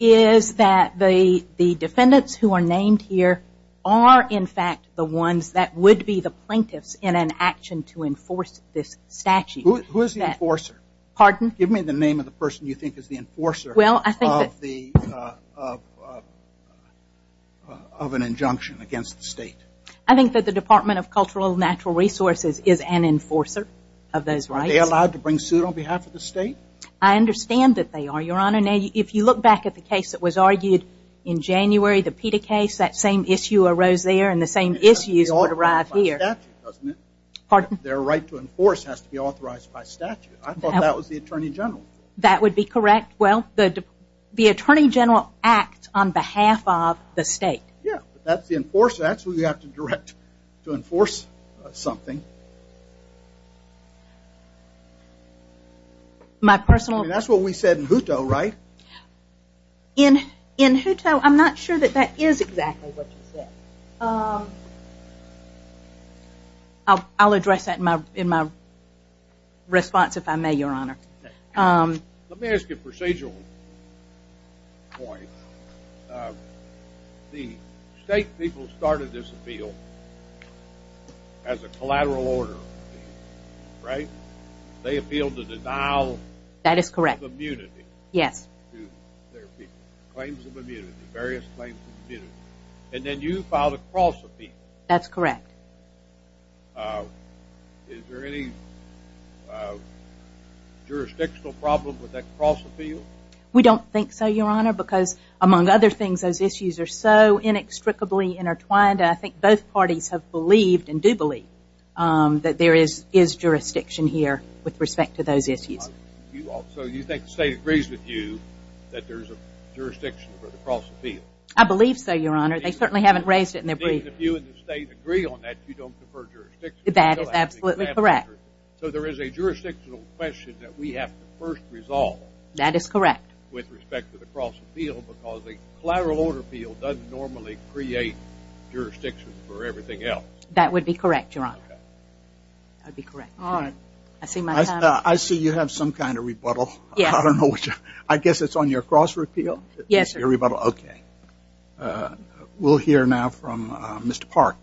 is that the defendants who are named here are in fact the ones that would be the plaintiffs in an action to enforce this statute. Who is the enforcer? Pardon? Give me the name of the person you think is the enforcer of an injunction against the state. I think that the Department of Cultural and Natural Resources is an enforcer of those rights. Are they allowed to bring suit on behalf of the state? I understand that they are, Your Honor. Now, if you look back at the case that was argued in January, the PETA case, that same issue arose there and the same issues were derived here. It has to be authorized by statute, doesn't it? Pardon? Their right to enforce has to be authorized by statute. I thought that was the Attorney General. That would be correct. Well, the Attorney General acts on behalf of the state. Yeah, but that's the enforcer. That's who you have to direct to enforce something. My personal... I mean, that's what we said in Hutto, right? In Hutto, I'm not sure that that is exactly what you said. I'll address that in my response, if I may, Your Honor. Let me ask you a procedural point. The state people started this appeal as a collateral order, right? That is correct. Yes. Claims of immunity, various claims of immunity, and then you filed a cross-appeal. That's correct. Is there any jurisdictional problem with that cross-appeal? We don't think so, Your Honor, because among other things those issues are so inextricably intertwined that I think both parties have believed and do believe that there is jurisdiction here with respect to those issues. So you think the state agrees with you that there's a jurisdiction for the cross-appeal? I believe so, Your Honor. They certainly haven't raised it in their brief. If you and the state agree on that, you don't confer jurisdiction. That is absolutely correct. So there is a jurisdictional question that we have to first resolve... That is correct. ...with respect to the cross-appeal because a collateral order appeal doesn't normally create jurisdiction for everything else. That would be correct, Your Honor. That would be correct. All right. I see my time is up. I see you have some kind of rebuttal. Yes. I don't know which. I guess it's on your cross-repeal? Yes, sir. Your rebuttal. Okay. We'll hear now from Mr. Park.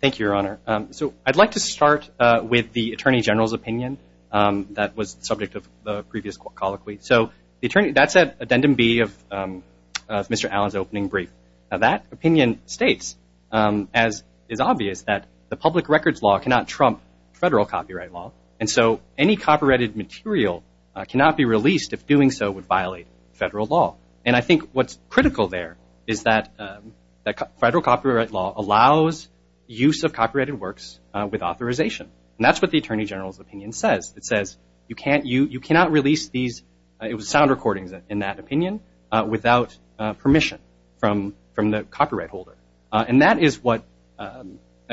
Thank you, Your Honor. So I'd like to start with the Attorney General's opinion that was the subject of the previous colloquy. So that's addendum B of Mr. Allen's opening brief. Now, that opinion states, as is obvious, that the public records law cannot trump federal copyright law, and so any copyrighted material cannot be released if doing so would violate federal law. And I think what's critical there is that federal copyright law allows use of copyrighted works with authorization. And that's what the Attorney General's opinion says. It says you cannot release these sound recordings, in that opinion, without permission from the copyright holder. And that is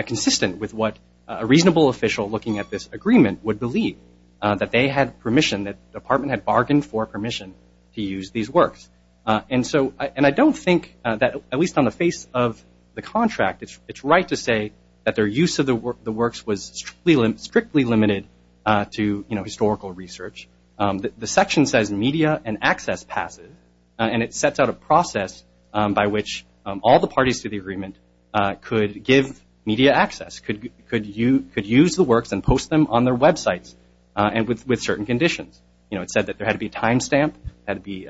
consistent with what a reasonable official looking at this agreement would believe, that they had permission, that the Department had bargained for permission to use these works. And I don't think that, at least on the face of the contract, it's right to say that their use of the works was strictly limited to historical research. The section says media and access passive, and it sets out a process by which all the parties to the agreement could give media access, could use the works and post them on their websites, and with certain conditions. You know, it said that there had to be a time stamp, had to be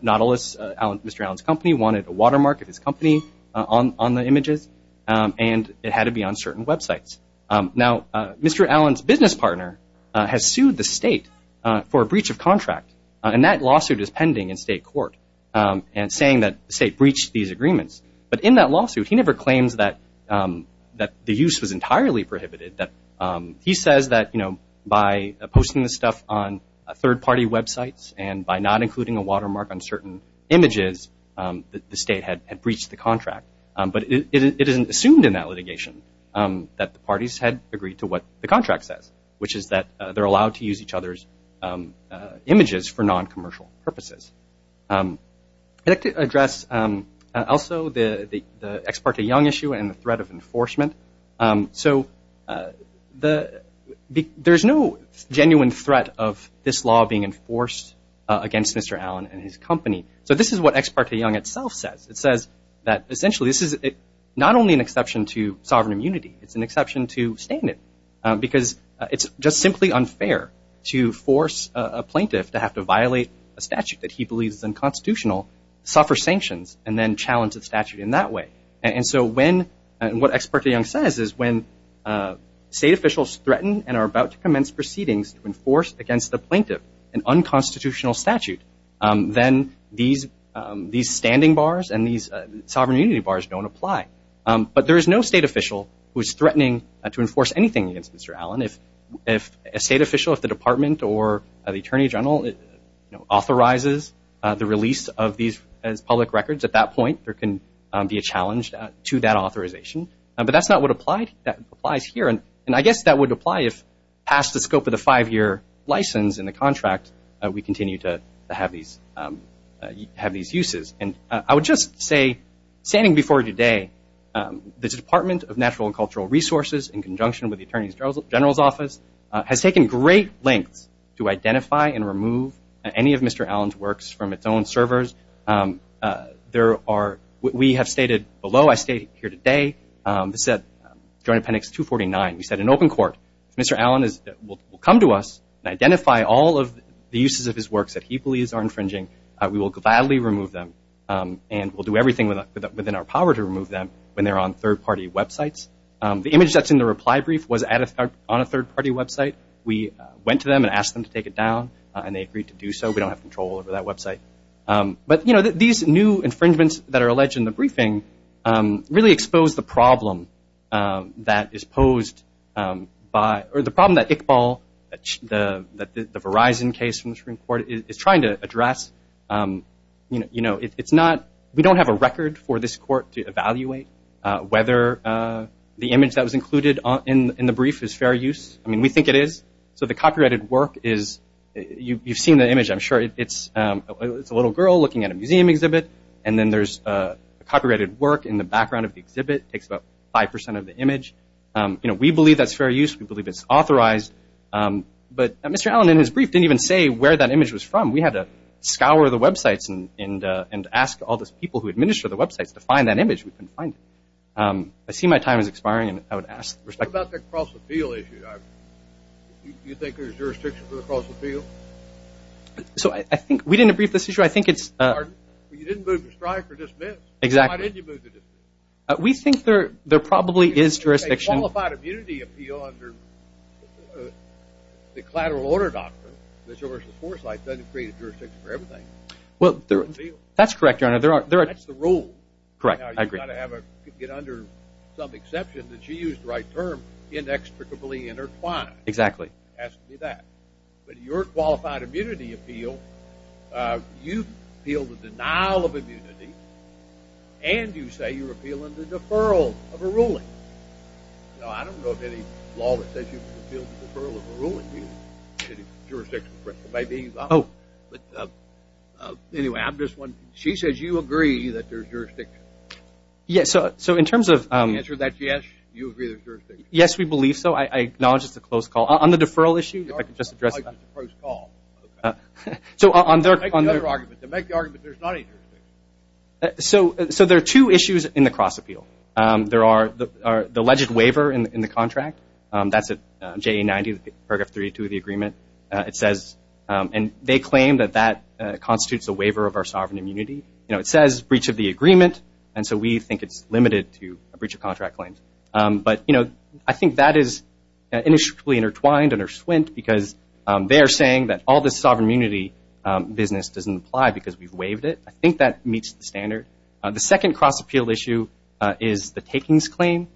Nautilus, Mr. Allen's company, wanted a watermark of his company on the images, and it had to be on certain websites. Now, Mr. Allen's business partner has sued the state for a breach of contract, and that lawsuit is pending in state court, and saying that the state breached these agreements. But in that lawsuit, he never claims that the use was entirely prohibited. He says that, you know, by posting this stuff on third-party websites and by not including a watermark on certain images, the state had breached the contract. But it isn't assumed in that litigation that the parties had agreed to what the contract says, which is that they're allowed to use each other's images for non-commercial purposes. I'd like to address also the Ex parte Young issue and the threat of enforcement. So there's no genuine threat of this law being enforced against Mr. Allen and his company. So this is what Ex parte Young itself says. It says that, essentially, this is not only an exception to sovereign immunity. It's an exception to standing, because it's just simply unfair to force a plaintiff to have to violate a statute that he believes is unconstitutional, suffer sanctions, and then challenge the statute in that way. And so what Ex parte Young says is when state officials threaten and are about to commence proceedings to enforce against the plaintiff an unconstitutional statute, then these standing bars and these sovereign immunity bars don't apply. But there is no state official who is threatening to enforce anything against Mr. Allen. If a state official, if the Department or the Attorney General authorizes the release of these public records, at that point there can be a challenge to that authorization. But that's not what applies here. And I guess that would apply if, past the scope of the five-year license in the contract, we continue to have these uses. And I would just say, standing before you today, the Department of Natural and Cultural Resources, in conjunction with the Attorney General's Office, has taken great lengths to identify and remove any of Mr. Allen's works from its own servers. We have stated below, I state here today, this is at Joint Appendix 249, we said, in open court, if Mr. Allen will come to us and identify all of the uses of his works that he believes are infringing, we will gladly remove them. And we'll do everything within our power to remove them when they're on third-party websites. The image that's in the reply brief was on a third-party website. We went to them and asked them to take it down, and they agreed to do so. We don't have control over that website. But, you know, these new infringements that are alleged in the briefing really expose the problem that is posed by, or the problem that Iqbal, the Verizon case from the Supreme Court, is trying to address. You know, it's not, we don't have a record for this court to evaluate whether the image that was included in the brief is fair use. I mean, we think it is. So the copyrighted work is, you've seen the image, I'm sure, it's a little girl looking at a museum exhibit, and then there's copyrighted work in the background of the exhibit, takes about 5% of the image. You know, we believe that's fair use. We believe it's authorized. But Mr. Allen, in his brief, didn't even say where that image was from. We had to scour the websites and ask all those people who administer the websites to find that image. We couldn't find it. I see my time is expiring, and I would ask for respect. What about the cross-appeal issue? Do you think there's jurisdiction for the cross-appeal? So I think we didn't agree with this issue. I think it's – You didn't move to strike or dismiss. Exactly. Why didn't you move to dismiss? We think there probably is jurisdiction. A qualified immunity appeal under the collateral order doctrine, which of course the foresight doesn't create a jurisdiction for everything. Well, that's correct, Your Honor. That's the rule. Correct. I agree. She's got to have a – get under some exception that she used the right term, inexplicably intertwined. Exactly. It has to be that. But your qualified immunity appeal, you appeal the denial of immunity, and you say you're appealing the deferral of a ruling. Now, I don't know of any law that says you can appeal the deferral of a ruling. It's jurisdiction. Oh. Anyway, I have this one. She says you agree that there's jurisdiction. Yes. So in terms of – Answer that yes, you agree there's jurisdiction. Yes, we believe so. I acknowledge it's a close call. On the deferral issue, if I could just address that. Close call. Okay. So on their – Make the argument there's not any jurisdiction. So there are two issues in the cross-appeal. There are the alleged waiver in the contract. That's at JA 90, Paragraph 32 of the agreement. It says – and they claim that that constitutes a waiver of our sovereign immunity. You know, it says breach of the agreement, and so we think it's limited to a breach of contract claims. But, you know, I think that is inextricably intertwined and are swint because they are saying that all this sovereign immunity business doesn't apply because we've waived it. I think that meets the standard. The second cross-appeal issue is the takings claim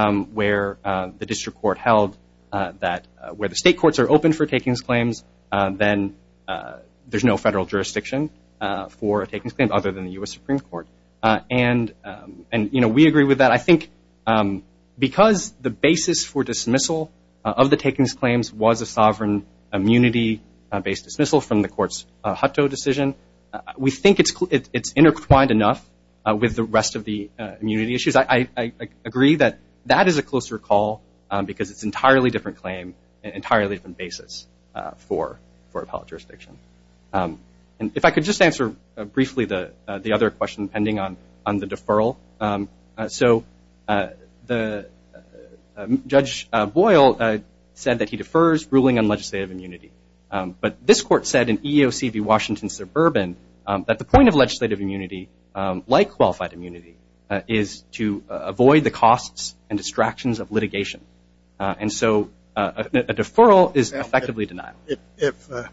where the district court held that – then there's no federal jurisdiction for a takings claim other than the U.S. Supreme Court. And, you know, we agree with that. I think because the basis for dismissal of the takings claims was a sovereign immunity-based dismissal from the court's Hutto decision, we think it's intertwined enough with the rest of the immunity issues. I agree that that is a closer call because it's an entirely different claim, an entirely different basis for appellate jurisdiction. And if I could just answer briefly the other question pending on the deferral. So Judge Boyle said that he defers ruling on legislative immunity. But this court said in EEOC v. Washington Suburban that the point of legislative immunity, like qualified immunity, is to avoid the costs and distractions of litigation. And so a deferral is effectively denial. If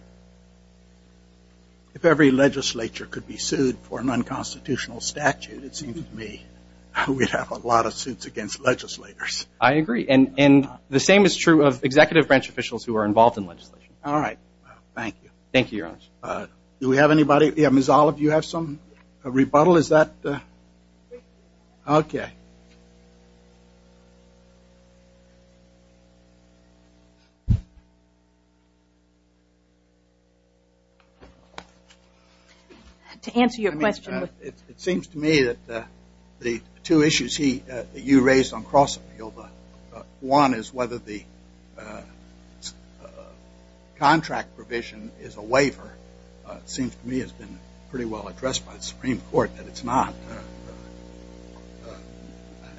every legislature could be sued for an unconstitutional statute, it seems to me we'd have a lot of suits against legislators. I agree. And the same is true of executive branch officials who are involved in legislation. All right. Thank you. Thank you, Your Honor. Do we have anybody? Ms. Olive, do you have some rebuttal? Is that? Okay. To answer your question. It seems to me that the two issues that you raised on cross-appeal, one is whether the contract provision is a waiver. It seems to me it's been pretty well addressed by the Supreme Court that it's not.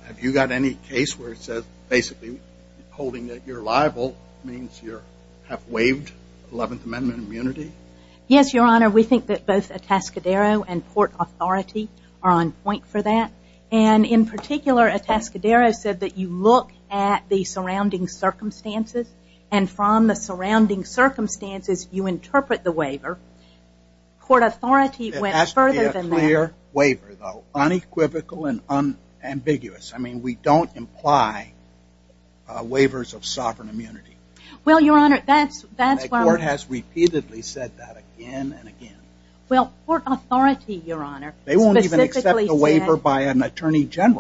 Have you got any case where it says basically holding that you're liable means you're half-waived Eleventh Amendment immunity? Yes, Your Honor. We think that both Atascadero and Port Authority are on point for that. And in particular, Atascadero said that you look at the surrounding circumstances and from the surrounding circumstances you interpret the waiver. Port Authority went further than that. It has to be a clear waiver, though, unequivocal and unambiguous. I mean, we don't imply waivers of sovereign immunity. Well, Your Honor, that's why we're The court has repeatedly said that again and again. Well, Port Authority, Your Honor, specifically said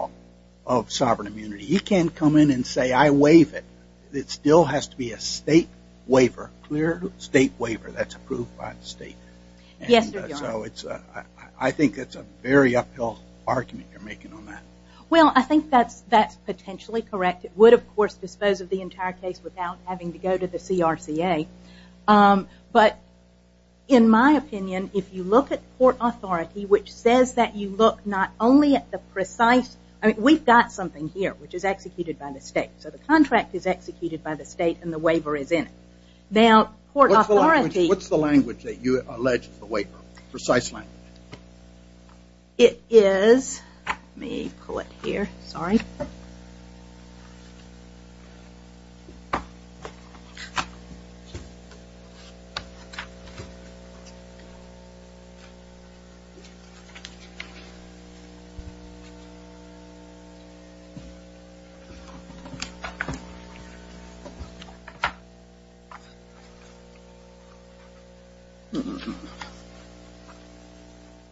of sovereign immunity. He can't come in and say I waive it. It still has to be a state waiver, a clear state waiver that's approved by the state. Yes, Your Honor. I think it's a very uphill argument you're making on that. Well, I think that's potentially correct. It would, of course, dispose of the entire case without having to go to the CRCA. But in my opinion, if you look at Port Authority, which says that you look not only at the precise, I mean, we've got something here, which is executed by the state. So the contract is executed by the state and the waiver is in it. Now, Port Authority What's the language that you allege is the waiver? Precise language. It is, let me pull it here, sorry.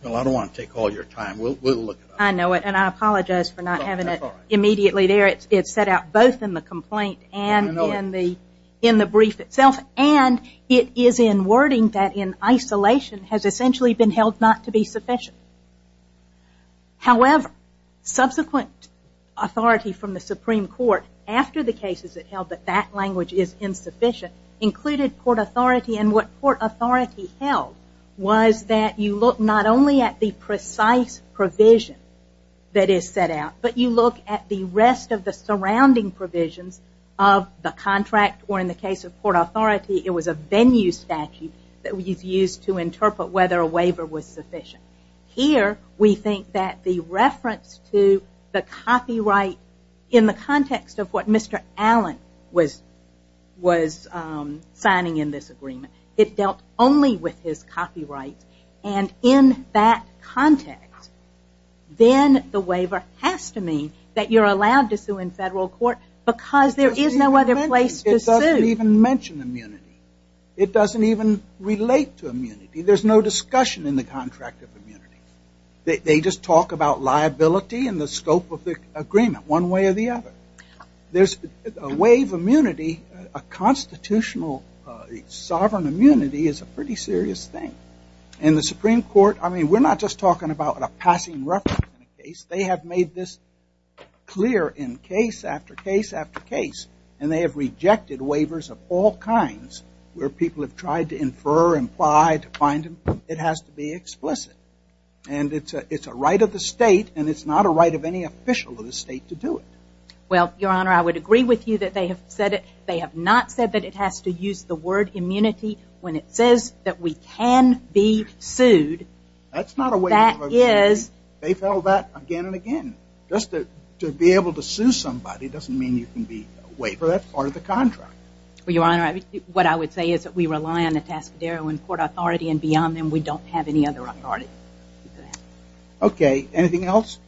Well, I don't want to take all your time. We'll look at it. I know it, and I apologize for not having it immediately there. It's set out both in the complaint and in the brief itself. And it is in wording that in isolation has essentially been held not to be sufficient. However, subsequent authority from the Supreme Court after the cases it held that that language is insufficient included Port Authority, and what Port Authority held was that you look not only at the precise provision that is set out, but you look at the rest of the surrounding provisions of the contract or in the case of Port Authority, it was a venue statute that was used to interpret whether a waiver was sufficient. Here, we think that the reference to the copyright in the context of what Mr. Allen was signing in this agreement, it dealt only with his copyright. And in that context, then the waiver has to mean that you're allowed to sue in federal court because there is no other place to sue. It doesn't even mention immunity. It doesn't even relate to immunity. There's no discussion in the contract of immunity. They just talk about liability and the scope of the agreement, one way or the other. There's a way of immunity, a constitutional sovereign immunity is a pretty serious thing. And the Supreme Court, I mean, we're not just talking about a passing reference. They have made this clear in case after case after case, and they have rejected waivers of all kinds where people have tried to infer, imply, to find them. It has to be explicit. And it's a right of the state, and it's not a right of any official of the state to do it. Well, Your Honor, I would agree with you that they have said it. They have not said that it has to use the word immunity when it says that we can be sued. That's not a waiver of immunity. It is. They've held that again and again. Just to be able to sue somebody doesn't mean you can be a waiver. That's part of the contract. Well, Your Honor, what I would say is that we rely on the Tascadero and court authority, and beyond them we don't have any other authority. Okay, anything else?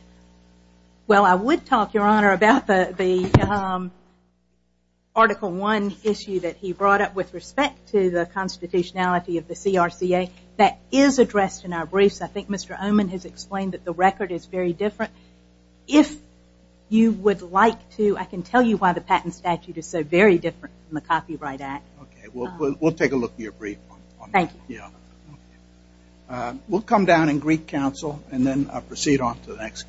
Well, I would talk, Your Honor, about the Article I issue that he brought up with respect to the constitutionality of the CRCA. That is addressed in our briefs. I think Mr. Oman has explained that the record is very different. If you would like to, I can tell you why the patent statute is so very different from the Copyright Act. Okay, we'll take a look at your brief. Thank you. We'll come down and greet counsel, and then proceed on to the next case.